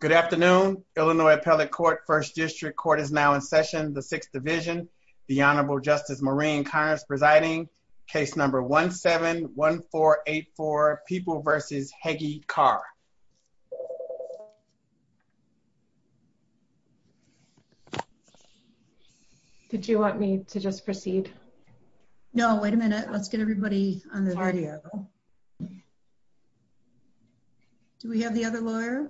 Good afternoon, Illinois Appellate Court, 1st District Court is now in session, the 6th Division, the Honorable Justice Maureen Connors presiding, case number 17-1484, People v. Heggie Carr. Did you want me to just proceed? No, wait a minute, let's get everybody on the video. Do we have the other lawyer?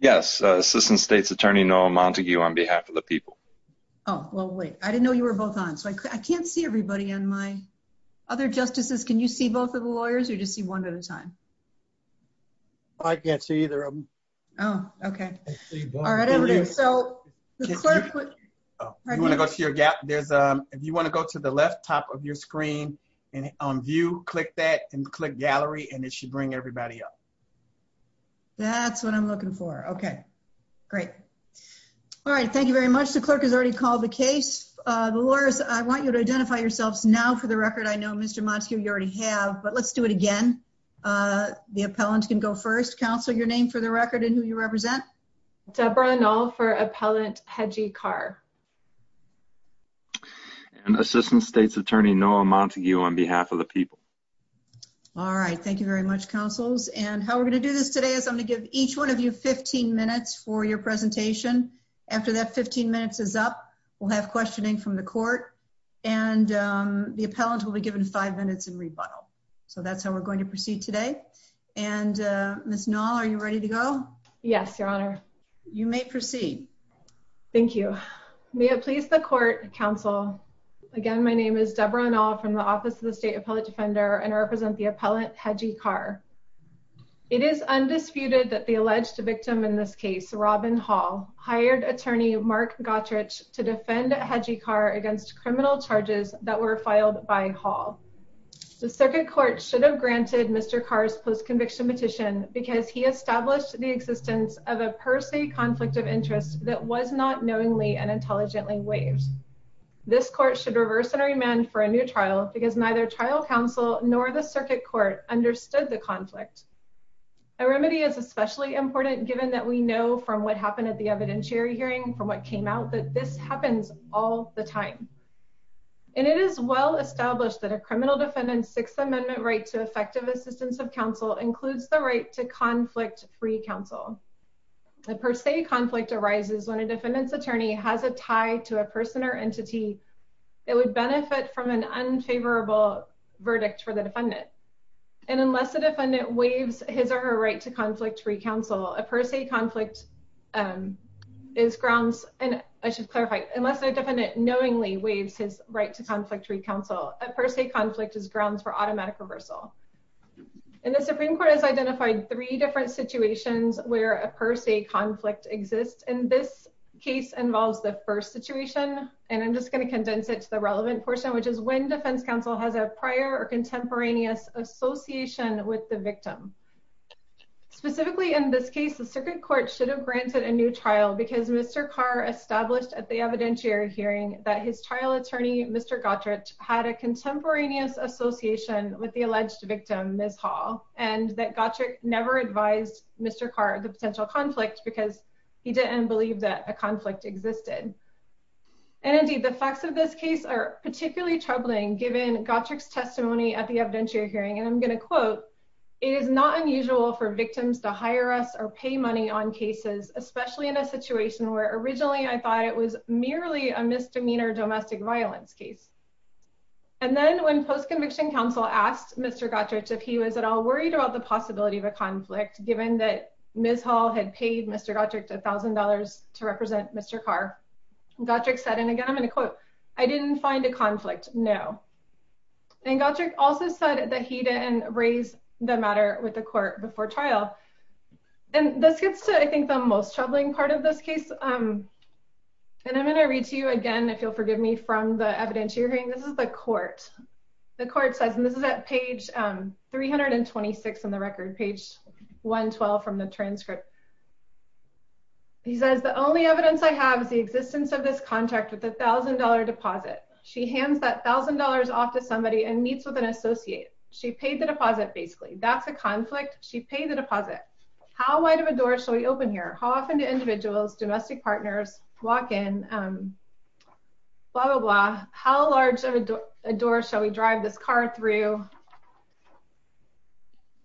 Yes, Assistant State's Attorney Noel Montague on behalf of the people. Oh, well, wait, I didn't know you were both on, so I can't see everybody on my... Other justices, can you see both of the lawyers, or do you just see one at a time? I can't see either of them. Oh, okay. All right, everybody, so the clerk put... If you want to go to the left top of your screen on view, click that, and click gallery, and it should bring everybody up. That's what I'm looking for. Okay, great. All right, thank you very much. The clerk has already called the case. The lawyers, I want you to identify yourselves now for the record. I know, Mr. Montague, you already have, but let's do it again. The appellant can go first. Counsel, your name for the record and who you represent. Deborah Knoll for Appellant Hedgie Carr. And Assistant State's Attorney Noel Montague on behalf of the people. All right, thank you very much, counsels. And how we're going to do this today is I'm going to give each one of you 15 minutes for your presentation. After that 15 minutes is up, we'll have questioning from the court, and the appellant will be given five minutes in rebuttal. So that's how we're going to proceed today. And Ms. Knoll, are you ready to go? Yes, Your Honor. You may proceed. Thank you. May it please the court, counsel. Again, my name is Deborah Knoll from the Office of the State Appellant Defender and I represent the appellant Hedgie Carr. It is undisputed that the alleged victim in this case, Robin Hall, hired attorney Mark Gottrich to defend Hedgie Carr against criminal charges that were filed by Hall. The circuit court should have granted Mr. Carr's post-conviction petition because he established the existence of a per se conflict of interest that was not knowingly and intelligently waived. This court should reverse and remand for a new trial because neither trial counsel nor the circuit court understood the conflict. A remedy is especially important given that we know from what happened at the evidentiary hearing, from what came out, that this happens all the time. And it is well established that a criminal defendant's Sixth Amendment right to effective assistance of counsel includes the right to conflict-free counsel. A per se conflict arises when a defendant's attorney has a tie to a person or entity that would benefit from an unfavorable verdict for the defendant. Unless a defendant knowingly waives his right to conflict-free counsel, a per se conflict is grounds for automatic reversal. And the Supreme Court has identified three different situations where a per se conflict exists. And this case involves the first situation. And I'm just going to condense it to the relevant portion, which is when defense counsel has a prior or contemporaneous association with the victim. Specifically in this case, the circuit court should have granted a new trial because Mr. Carr established at the evidentiary hearing that his trial attorney, Mr. Gottrich, had a contemporaneous association with the alleged victim, Ms. Hall, and that Gottrich never advised Mr. Carr of the potential conflict because he didn't believe that a conflict existed. And indeed, the facts of this case are particularly troubling given Gottrich's testimony at the evidentiary hearing. And I'm going to quote, And again, I'm going to quote, And this gets to, I think, the most troubling part of this case. And I'm going to read to you again, if you'll forgive me, from the evidentiary hearing. This is the court. The court says, and this is at page 326 in the record, page 112 from the transcript. He says, Because the only evidence I have is the existence of this contract with $1,000 deposit. She hands that $1,000 off to somebody and meets with an associate. She paid the deposit, basically. That's a conflict. She paid the deposit. How wide of a door shall we open here? How often do individuals, domestic partners, walk in, blah, blah, blah. How large of a door shall we drive this car through?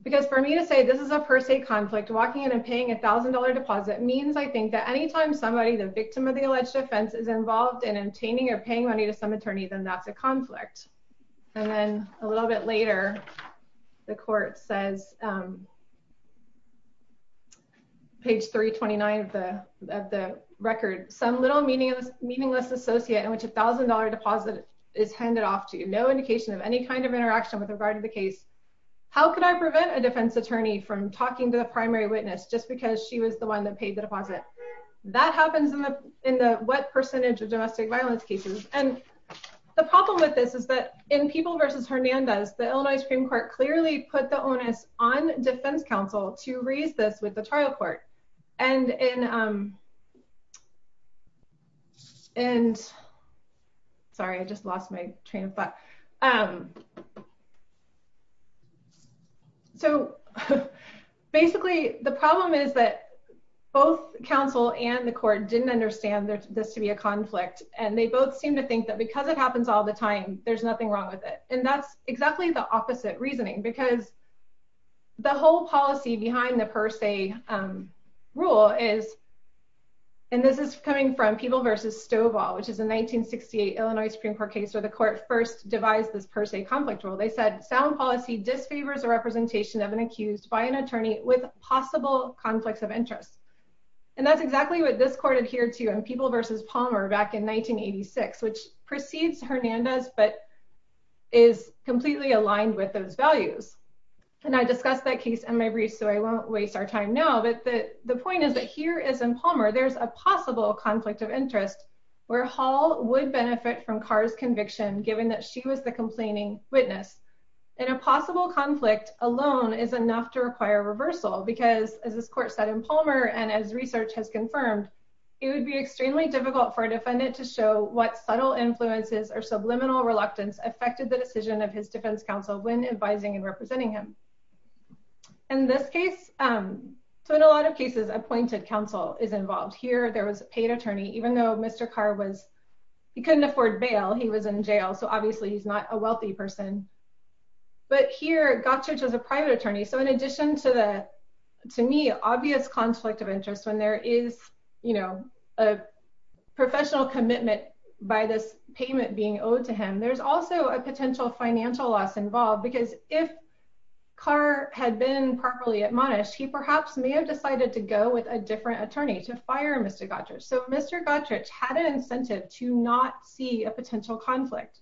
Because for me to say this is a per se conflict, walking in and paying $1,000 deposit, means, I think, that any time somebody, the victim of the alleged offense, is involved in obtaining or paying money to some attorney, then that's a conflict. And then a little bit later, the court says, page 329 of the record, Some little meaningless associate in which a $1,000 deposit is handed off to you. There is no indication of any kind of interaction with regard to the case. How could I prevent a defense attorney from talking to the primary witness just because she was the one that paid the deposit? That happens in the wet percentage of domestic violence cases. And the problem with this is that in People v. Hernandez, the Illinois Supreme Court clearly put the onus on defense counsel to raise this with the trial court. And in... And... Sorry, I just lost my train of thought. So, basically, the problem is that both counsel and the court didn't understand this to be a conflict, and they both seem to think that because it happens all the time, there's nothing wrong with it. And that's exactly the opposite reasoning, because the whole policy behind the per se rule is, and this is coming from People v. Stovall, which is a 1968 Illinois Supreme Court case where the court first devised this per se conflict rule. They said, sound policy disfavors a representation of an accused by an attorney with possible conflicts of interest. And that's exactly what this court adhered to in People v. Palmer back in 1986, which precedes Hernandez, but is completely aligned with those values. And I discussed that case in my brief, so I won't waste our time now. But the point is that here is in Palmer, there's a possible conflict of interest where Hall would benefit from Carr's conviction, given that she was the complaining witness. And a possible conflict alone is enough to require reversal, because as this court said in Palmer, and as research has confirmed, it would be extremely difficult for a defendant to show what subtle influences or subliminal reluctance affected the decision of his defense counsel when advising and representing him. In this case, so in a lot of cases, appointed counsel is involved. Here there was a paid attorney, even though Mr. Carr was, he couldn't afford bail, he was in jail, so obviously he's not a wealthy person. But here, Gottschalk was a private attorney, so in addition to the, to me, obvious conflict of interest when there is, you know, a professional commitment by this payment being owed to him, there's also a potential financial loss involved, because if Carr had been properly admonished, he perhaps may have decided to go with a different attorney to fire Mr. Gottschalk. So Mr. Gottschalk had an incentive to not see a potential conflict,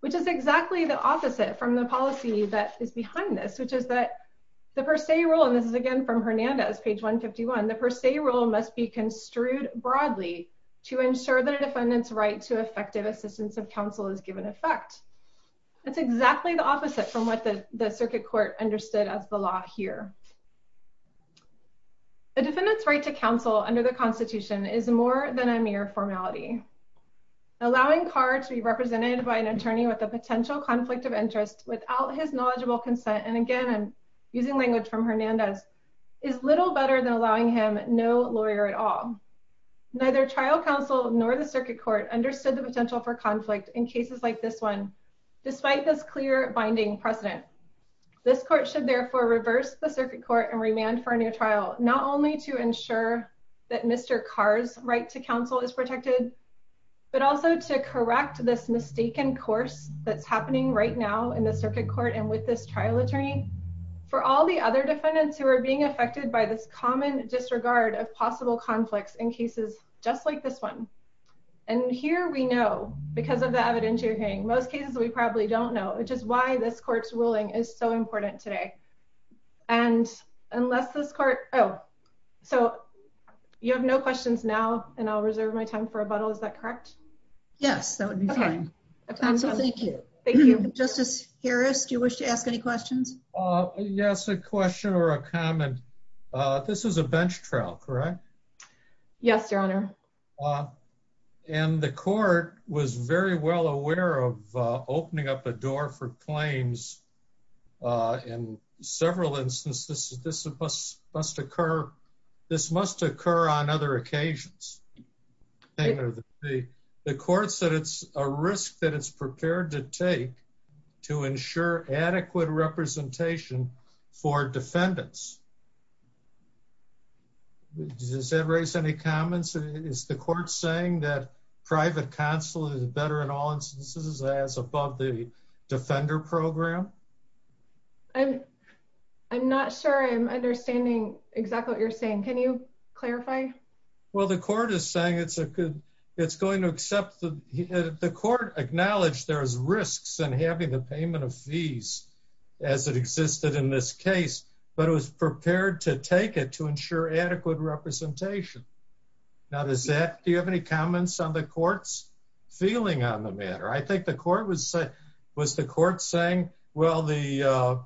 which is exactly the opposite from the policy that is behind this, which is that the per se rule, and this is again from Hernandez, page 151, the per se rule must be construed broadly to ensure that a defendant's right to effective assistance of counsel is given effect. That's exactly the opposite from what the circuit court understood as the law here. A defendant's right to counsel under the Constitution is more than a mere formality. Allowing Carr to be represented by an attorney with a potential conflict of interest without his knowledgeable consent, and again, I'm using language from Hernandez, is little better than allowing him no lawyer at all. Neither trial counsel nor the circuit court understood the potential for conflict in cases like this one, despite this clear binding precedent. This court should therefore reverse the circuit court and remand for a new trial, not only to ensure that Mr. Carr's right to counsel is protected, but also to correct this mistaken course that's happening right now in the circuit court and with this trial attorney, for all the other defendants who are being affected by this common disregard of possible conflicts in cases just like this one. And here we know, because of the evidence you're hearing, most cases we probably don't know, which is why this court's ruling is so important today. And unless this court... Oh, so you have no questions now, and I'll reserve my time for rebuttal. Is that correct? Yes, that would be fine. Thank you. Thank you. Justice Harris, do you wish to ask any questions? Yes, a question or a comment. This is a bench trial, correct? Yes, Your Honor. And the court was very well aware of opening up a door for claims in several instances. This must occur on other occasions. The court said it's a risk that it's prepared to take to ensure adequate representation for defendants. Does that raise any comments? Is the court saying that private counsel is better in all instances as above the defender program? I'm not sure I'm understanding exactly what you're saying. Can you clarify? Well, the court is saying it's going to accept... The court acknowledged there's risks in having the payment of fees as it existed in this case, but it was prepared to take it to ensure adequate representation. Now, does that... Do you have any comments on the court's feeling on the matter? I think the court was saying, well, the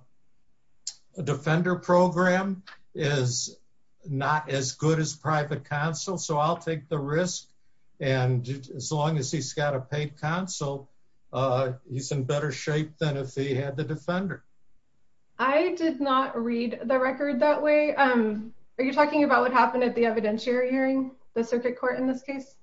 defender program is not as good as private counsel, so I'll take the risk. And as long as he's got a paid counsel, he's in better shape than if he had the defender. I did not read the record that way. Are you talking about what happened at the evidentiary hearing, the circuit court in this case?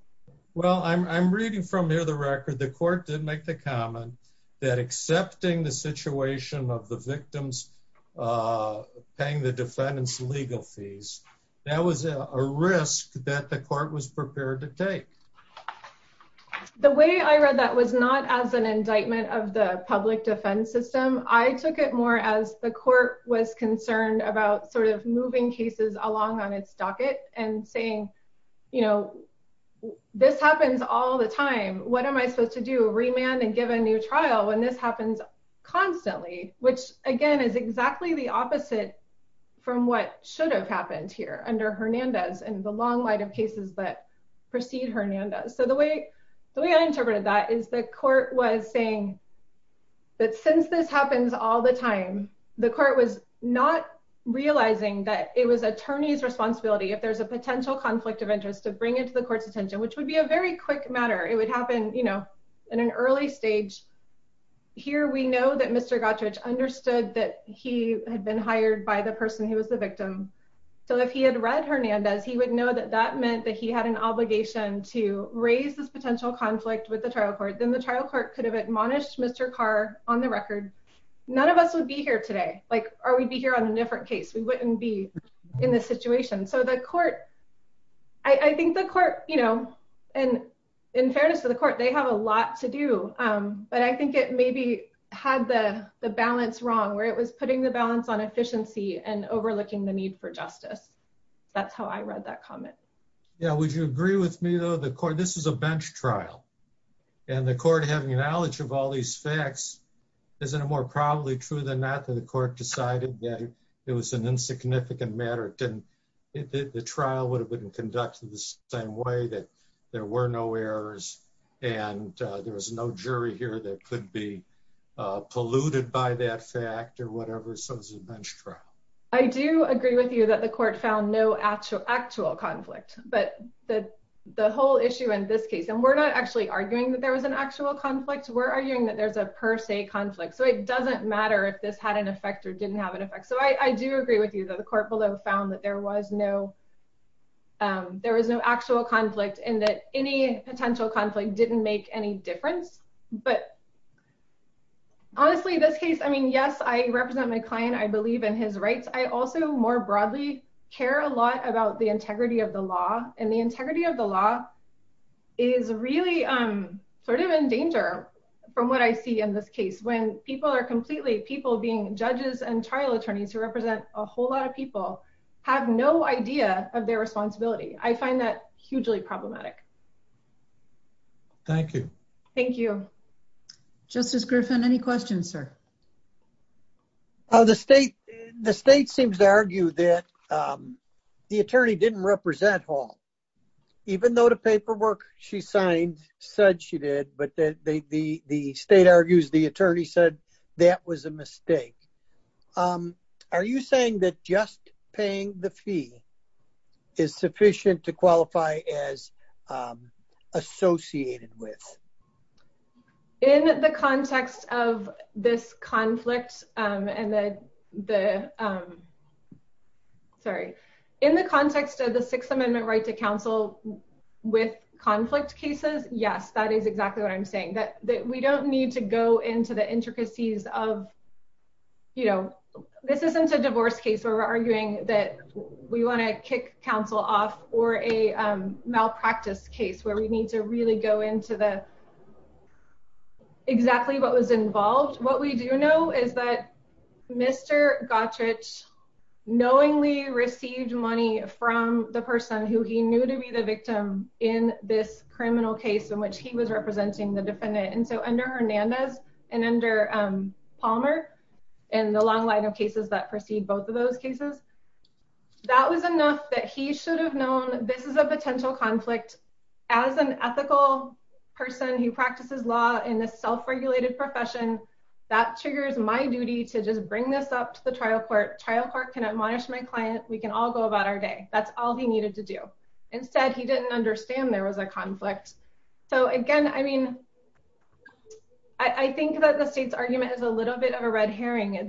Well, I'm reading from near the record. The court did make the comment that accepting the situation of the victims paying the defendant's legal fees, that was a risk that the court was prepared to take. The way I read that was not as an indictment of the public defense system. I took it more as the court was concerned about sort of moving cases along on its docket and saying, you know, this happens all the time. What am I supposed to do, remand and give a new trial when this happens constantly? Which, again, is exactly the opposite from what should have happened here under Hernandez and the long line of cases that precede Hernandez. So the way I interpreted that is the court was saying that since this happens all the time, the court was not realizing that it was attorney's responsibility if there's a potential conflict of interest to bring it to the court's attention, which would be a very quick matter. It would happen, you know, in an early stage. Here we know that Mr. Gottridge understood that he had been hired by the person who was the victim. So if he had read Hernandez, he would know that that meant that he had an obligation to raise this potential conflict with the trial court. Then the trial court could have admonished Mr. Carr on the record. None of us would be here today. Like, or we'd be here on a different case. We wouldn't be in this situation. So the court, I think the court, you know, and in fairness to the court, they have a lot to do. But I think it maybe had the balance wrong where it was putting the balance on efficiency and overlooking the need for justice. That's how I read that comment. Yeah, would you agree with me, though? The court, this is a bench trial and the court having knowledge of all these facts, isn't it more probably true than not that the court decided that it was an insignificant matter? The trial would have been conducted the same way that there were no errors and there was no jury here that could be polluted by that fact or whatever, so it was a bench trial. I do agree with you that the court found no actual conflict, but the whole issue in this case, and we're not actually arguing that there was an actual conflict. We're arguing that there's a per se conflict. So it doesn't matter if this had an effect or didn't have an effect. So I do agree with you that the court below found that there was no actual conflict and that any potential conflict didn't make any difference. But honestly, this case, I mean, yes, I represent my client. I believe in his rights. I also more broadly care a lot about the integrity of the law and the integrity of the law is really sort of in danger from what I see in this case when people are completely, people being judges and trial attorneys who represent a whole lot of people have no idea of their responsibility. I find that hugely problematic. Thank you. Thank you. Justice Griffin, any questions, sir? The state seems to argue that the attorney didn't represent Hall, even though the paperwork she signed said she did, but the state argues the attorney said that was a mistake. Are you saying that just paying the fee is sufficient to qualify as associated with? In the context of this conflict and the, sorry, in the context of the sixth amendment right to counsel with conflict cases, yes, that is exactly what I'm saying. That we don't need to go into the intricacies of, you know, this isn't a divorce case where we're arguing that we want to kick counsel off or a malpractice case where we need to really go into the exactly what was involved. What we do know is that Mr. Gottridge knowingly received money from the person who he knew to be the victim in this criminal case in which he was representing the defendant. And so under Hernandez and under Palmer and the long line of cases that proceed both of those cases, that was enough that he should have known this is a potential conflict as an ethical person who practices law in a self-regulated profession. That triggers my duty to just bring this up to the trial court. Trial court can admonish my client. We can all go about our day. That's all he needed to do. Instead, he didn't understand there was a conflict. So again, I mean, I think that the state's argument is a little bit of a red herring.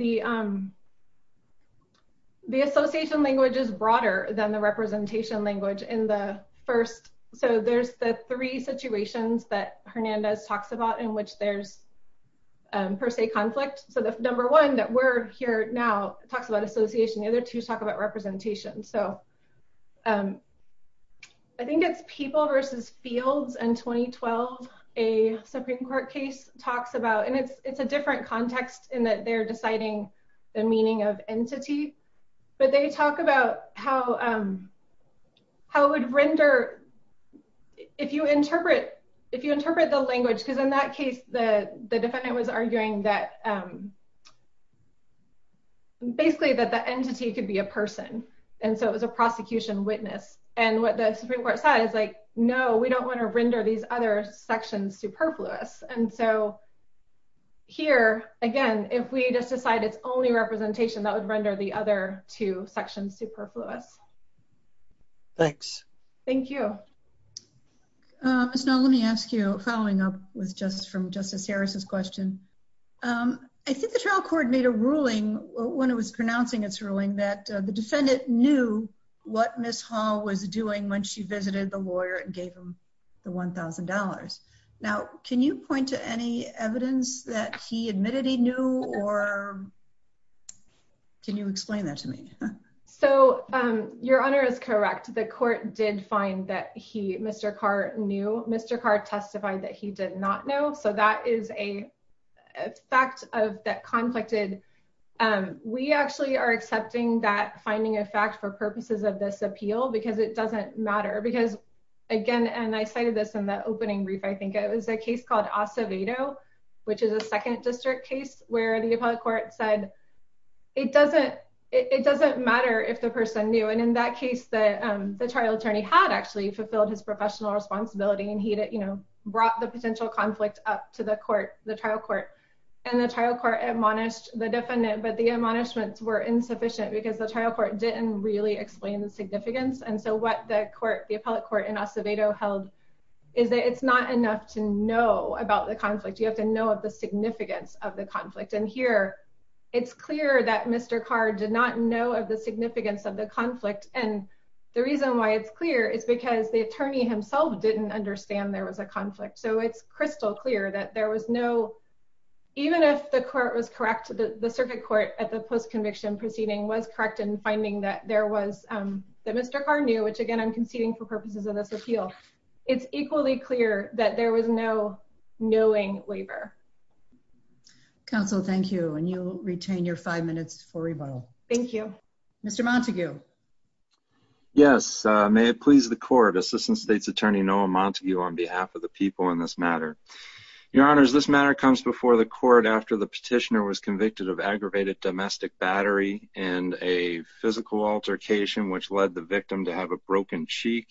The association language is broader than the representation language in the first. So there's the three situations that Hernandez talks about in which there's per se conflict. So the number one that we're here now talks about association. The other two talk about representation. So I think it's people versus fields in 2012. A Supreme Court case talks about, and it's a different context in that they're deciding the meaning of entity. But they talk about how it would render if you interpret the language. Because in that case, the defendant was arguing that basically that the entity could be a person. And so it was a prosecution witness. And what the Supreme Court said is like, no, we don't want to render these other sections superfluous. And so here, again, if we just decide it's only representation, that would render the other two sections superfluous. Thanks. Thank you. Ms. Null, let me ask you, following up from Justice Harris's question, I think the trial court made a ruling when it was pronouncing its ruling that the defendant knew what Ms. Hall was doing when she visited the lawyer and gave him the $1,000. Now, can you point to any evidence that he admitted he knew? Or can you explain that to me? So your honor is correct. The court did find that Mr. Carr knew. Mr. Carr testified that he did not know. So that is a fact that conflicted. We actually are accepting that finding a fact for purposes of this appeal because it doesn't matter. Because again, and I cited this in the opening brief, I think it was a case called Acevedo, which is a second district case, where the appellate court said it doesn't matter if the person knew. And in that case, the trial attorney had actually fulfilled his professional responsibility. And he brought the potential conflict up to the trial court. And the trial court admonished the defendant. But the admonishments were insufficient because the trial court didn't really explain the significance. And so what the appellate court in Acevedo held is that it's not enough to know about the conflict. You have to know of the significance of the conflict. And here, it's clear that Mr. Carr did not know of the significance of the conflict. And the reason why it's clear is because the attorney himself didn't understand there was a conflict. So it's crystal clear that there was no, even if the court was correct, the circuit court at the post-conviction proceeding was correct in finding that there was, that Mr. Carr knew, which again, I'm It's equally clear that there was no knowing waiver. Counsel, thank you. And you retain your five minutes for rebuttal. Thank you. Mr. Montague. Yes, may it please the court. Assistant State's Attorney Noah Montague on behalf of the people in this matter. Your honors, this matter comes before the court after the petitioner was convicted of aggravated domestic battery and a physical altercation, which led the victim to have a broken cheek,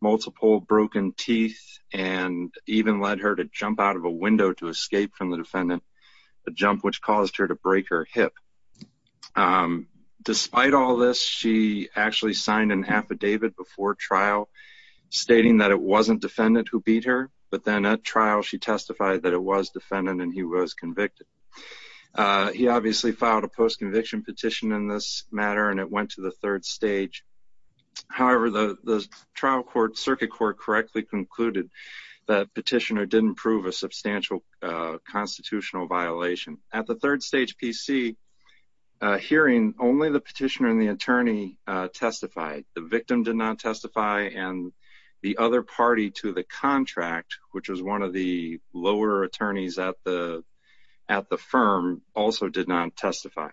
multiple broken teeth, and even led her to jump out of a window to escape from the defendant, a jump which caused her to break her hip. Despite all this, she actually signed an affidavit before trial stating that it wasn't defendant who beat her. But then at trial, she testified that it was defendant and he was convicted. He obviously filed a post-conviction petition in this matter, and it went to the third stage. However, the circuit court correctly concluded that petitioner didn't prove a substantial constitutional violation. At the third stage PC hearing, only the petitioner and the attorney testified. The victim did not testify, and the other party to the contract, which was one of the lower attorneys at the firm, also did not testify.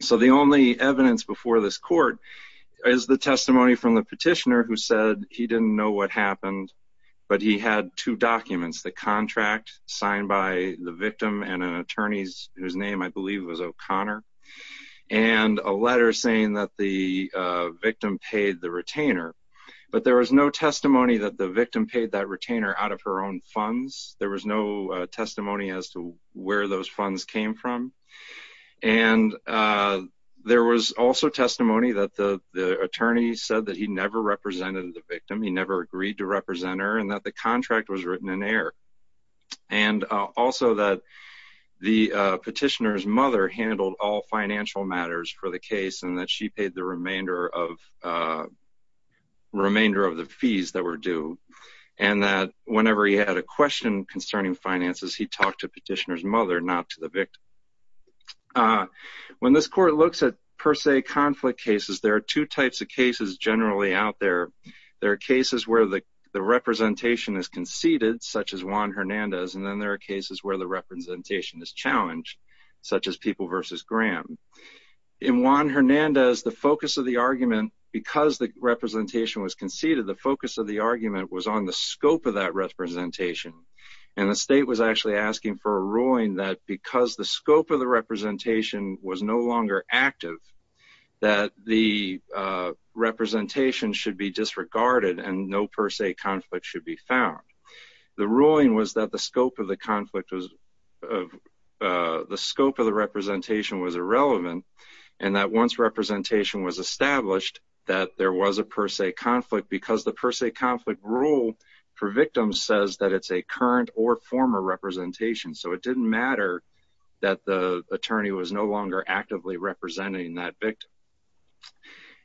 So the only evidence before this court is the testimony from the petitioner who said he didn't know what happened, but he had two documents, the contract signed by the victim and an attorney whose name I believe was O'Connor, and a letter saying that the victim paid the retainer. But there was no testimony that the victim paid that retainer out of her own funds. There was no testimony as to where those funds came from. And there was also testimony that the attorney said that he never represented the victim, he never agreed to represent her, and that the contract was written in air. And also that the petitioner's mother handled all financial matters for the case and that she paid the remainder of the fees that were due. And that whenever he had a question concerning finances, he talked to the petitioner's mother, not to the victim. When this court looks at per se conflict cases, there are two types of cases generally out there. There are cases where the representation is conceded, such as Juan Hernandez, and then there are cases where the representation is challenged, such as People v. Graham. In Juan Hernandez, the focus of the argument, the focus of the argument was on the scope of that representation. And the state was actually asking for a ruling that because the scope of the representation was no longer active, that the representation should be disregarded and no per se conflict should be found. The ruling was that the scope of the conflict was, the scope of the representation was irrelevant and that once representation was established, that there was a per se conflict because the per se conflict rule for victims says that it's a current or former representation. So it didn't matter that the attorney was no longer actively representing that victim.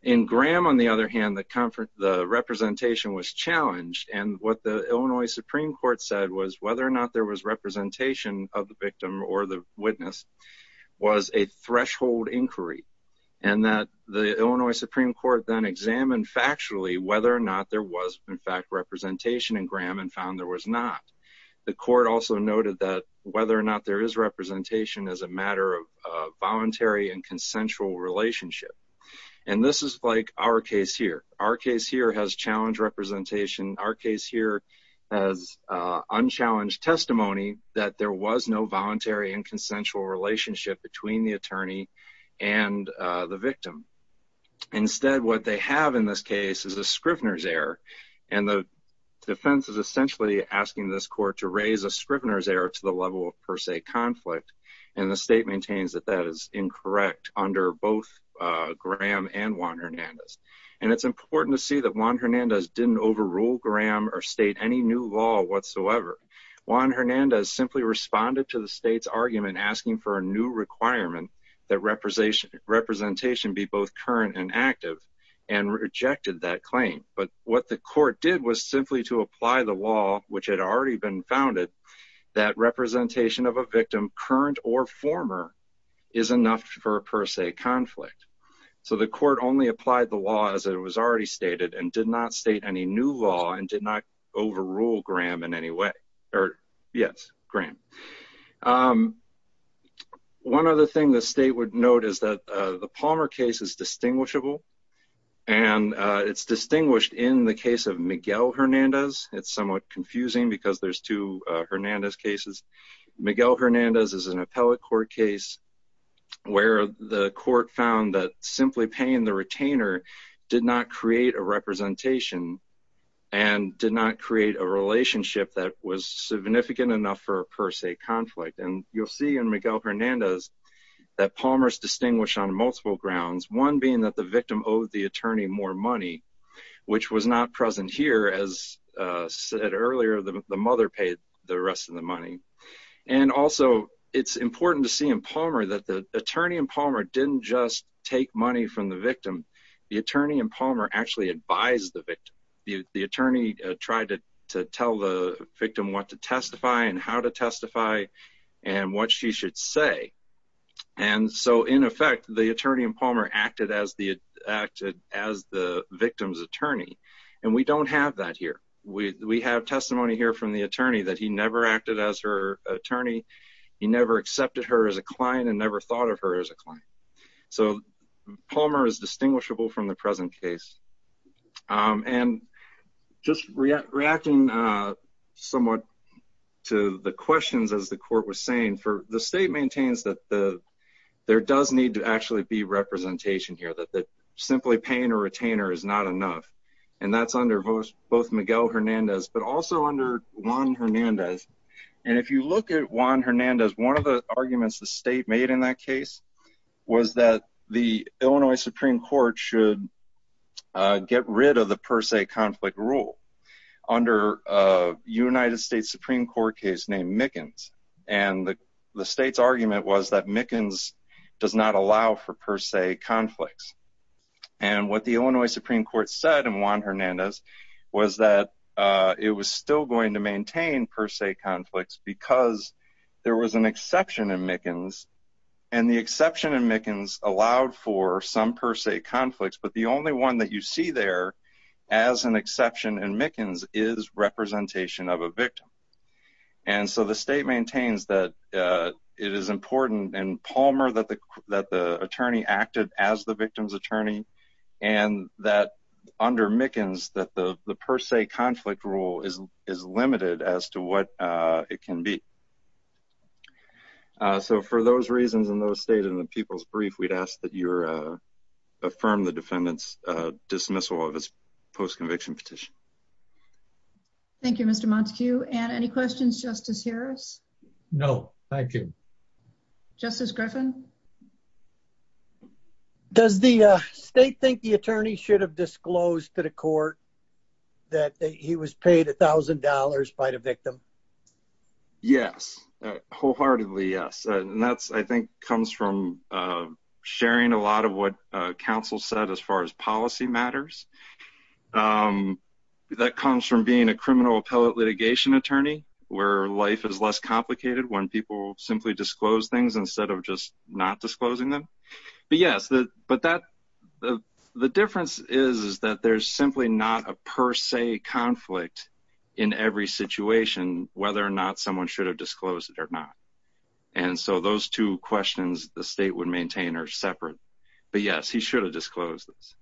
In Graham, on the other hand, the representation was challenged, and what the Illinois Supreme Court said was whether or not there was representation of the victim or the witness was a threshold inquiry, and that the Illinois Supreme Court then examined factually whether or not there was in fact representation in Graham and found there was not. The court also noted that whether or not there is representation is a matter of voluntary and consensual relationship. And this is like our case here. Our case here has challenged representation. Our case here has unchallenged testimony that there was no voluntary and consensual relationship between the attorney and the victim. Instead, what they have in this case is a Scrivner's error, and the defense is essentially asking this court to raise a Scrivner's error to the level of per se conflict, and the state maintains that that is incorrect under both Graham and Juan Hernandez. And it's important to see that Juan Hernandez didn't overrule Graham or state any new law whatsoever. Juan Hernandez simply responded to the state's argument asking for a new requirement that representation be both current and active and rejected that claim. But what the court did was simply to apply the law, which had already been founded, that representation of a victim, current or former, is enough for a per se conflict. So the court only applied the law as it was already stated and did not state any new law and did not overrule Graham in any way. Or, yes, Graham. One other thing the state would note is that the Palmer case is distinguishable, and it's distinguished in the case of Miguel Hernandez. It's somewhat confusing because there's two Hernandez cases. Miguel Hernandez is an appellate court case where the court found that simply paying the retainer did not create a representation and did not create a relationship that was significant enough for a per se conflict. And you'll see in Miguel Hernandez that Palmer is distinguished on multiple grounds, one being that the victim owed the attorney more money, which was not present here. As said earlier, the mother paid the rest of the money. And also it's important to see in Palmer that the attorney in Palmer The attorney in Palmer actually advised the victim. The attorney tried to tell the victim what to testify and how to testify and what she should say. And so, in effect, the attorney in Palmer acted as the victim's attorney. And we don't have that here. We have testimony here from the attorney that he never acted as her attorney. He never accepted her as a client and never thought of her as a client. So Palmer is distinguishable from the present case. And just reacting somewhat to the questions, as the court was saying, the state maintains that there does need to actually be representation here, that simply paying a retainer is not enough. And that's under both Miguel Hernandez, but also under Juan Hernandez. And if you look at Juan Hernandez, one of the arguments the state made in that case was that the Illinois Supreme Court should get rid of the per se conflict rule under a United States Supreme Court case named Mickens. And the state's argument was that Mickens does not allow for per se conflicts. And what the Illinois Supreme Court said in Juan Hernandez was that it was still going to maintain per se conflicts because there was an exception in Mickens and the exception in Mickens allowed for some per se conflicts, but the only one that you see there as an exception in Mickens is representation of a victim. And so the state maintains that it is important in Palmer that the attorney acted as the victim's attorney and that under Mickens, that the per se conflict rule is limited as to what it can be. So for those reasons and those stated in the people's brief, we'd ask that you affirm the defendant's dismissal of his post-conviction petition. Thank you, Mr. Montague. And any questions, Justice Harris? No, thank you. Justice Griffin? Does the state think the attorney should have disclosed to the court that he was paid $1,000 by the victim? Yes, wholeheartedly yes. And that, I think, comes from sharing a lot of what counsel said as far as policy matters. That comes from being a criminal appellate litigation attorney where life is less complicated when people simply disclose things instead of just not disclosing them. But yes, but the difference is that there's simply not a per se conflict in every situation whether or not someone should have disclosed it or not. And so those two questions the state would maintain are separate. But yes, he should have disclosed this.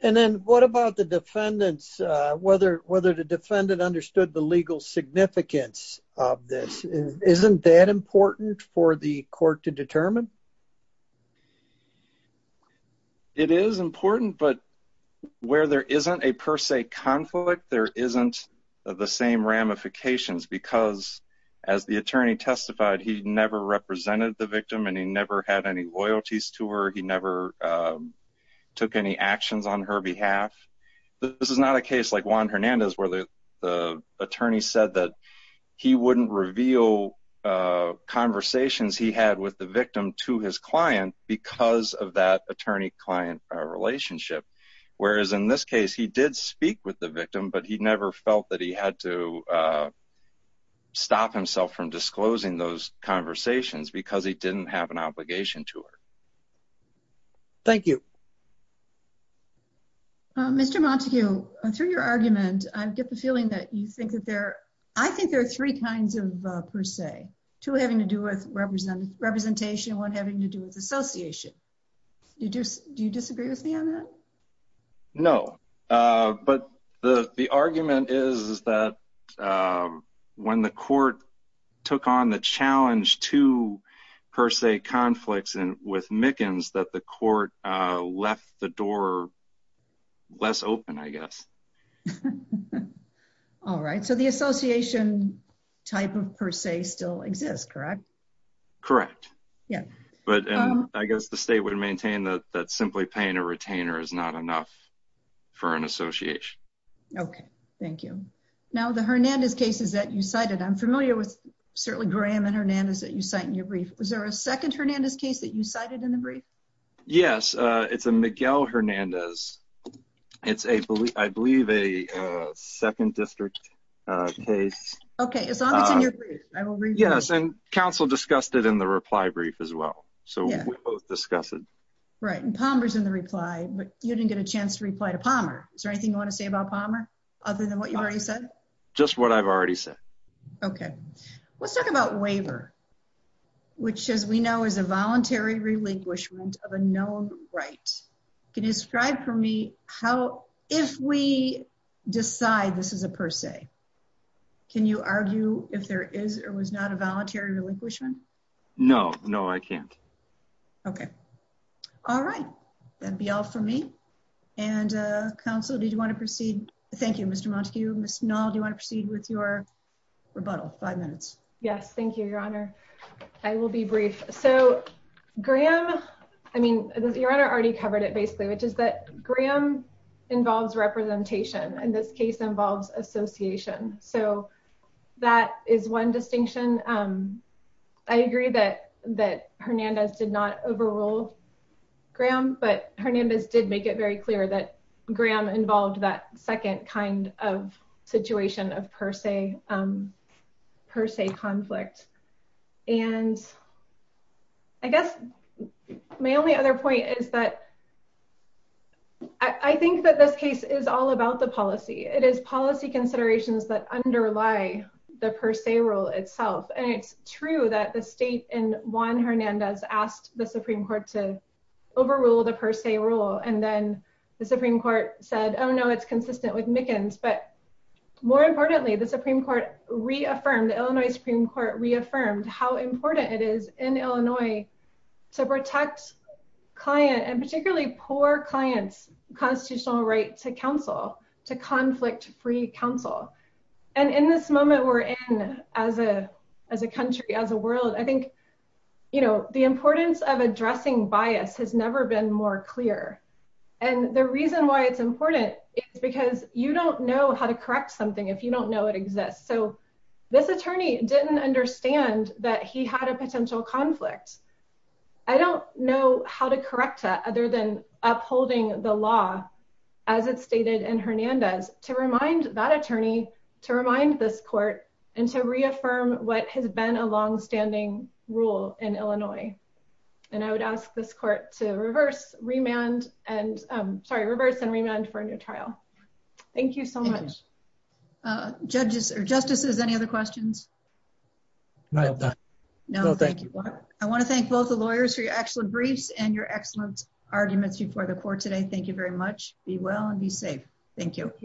And then what about the defendants, whether the defendant understood the legal significance of this? Isn't that important for the court to determine? It is important, but where there isn't a per se conflict, there isn't the same ramifications because as the attorney testified, he never represented the victim and he never had any loyalties to her. He never took any actions on her behalf. This is not a case like Juan Hernandez where the attorney said that he wouldn't reveal conversations he had with the victim to his client because of that attorney-client relationship. Whereas in this case, he did speak with the victim, but he never felt that he had to stop himself from disclosing those conversations because he didn't have an obligation to her. Thank you. Mr. Montague, through your argument, I get the feeling that you think that there, I think there are three kinds of per se, two having to do with representation, one having to do with association. Do you disagree with me on that? No, but the argument is that when the court took on the challenge to per se conflicts with Mickens, All right. So the association type of per se still exists, correct? Correct. Yeah. But I guess the state would maintain that simply paying a retainer is not enough for an association. Okay. Thank you. Now the Hernandez cases that you cited, I'm familiar with certainly Graham and Hernandez that you cite in your brief. Was there a second Hernandez case that you cited in the brief? Yes. It's a Miguel Hernandez. It's a, I believe a second district case. Okay. Yes. And council discussed it in the reply brief as well. So we both discuss it. Right. And Palmer's in the reply, but you didn't get a chance to reply to Palmer. Is there anything you want to say about Palmer other than what you already said? Just what I've already said. Okay. Let's talk about waiver, which as we know is a voluntary relinquishment of a known right. And I'm going to ask you to describe for me. Can you describe for me how, if we. Decide this is a per se. Can you argue if there is, or was not a voluntary relinquishment? No, no, I can't. Okay. All right. That'd be all for me. And council, did you want to proceed? Thank you, Mr. Montague. Do you want to proceed with your. Rebuttal five minutes. Yes. Thank you, your honor. I will be brief. So Graham. I mean, your honor already covered it basically, which is that Graham involves representation and this case involves association. So. That is one distinction. I agree that, that Hernandez did not overrule. Graham, but Hernandez did make it very clear that Graham involved that second kind of situation of per se. And that that was not a voluntary relinquishment. That was a voluntary per se conflict. And. I guess. My only other point is that. I think that this case is all about the policy. It is policy considerations that underlie the per se rule itself. And it's true that the state in Juan Hernandez asked the Supreme court to. Overrule the per se rule. And then the Supreme court said, Oh no, it's consistent with Mickens, but. More importantly, the Supreme court reaffirmed the Illinois Supreme court reaffirmed how important it is in Illinois. To have a constitutional right to counsel. And to have a constitutional right. To protect. Client and particularly poor clients, constitutional right to counsel, to conflict free counsel. And in this moment, we're in as a, as a country, as a world, I think. You know, the importance of addressing bias has never been more clear. And the reason why it's important is because you don't know how to correct something. If you don't know it exists. So. This attorney didn't understand that he had a potential conflict. I don't know how to correct that other than upholding the law. As it's stated in Hernandez to remind that attorney to remind this court. And to reaffirm what has been a longstanding rule in Illinois. And I would ask this court to reverse remand and I'm sorry, reverse and remand for a new trial. Thank you so much. Judges or justices. Any other questions? No, thank you. I want to thank both the lawyers for your excellent briefs and your excellence. Arguments before the court today. Thank you very much. Be well and be safe. Thank you.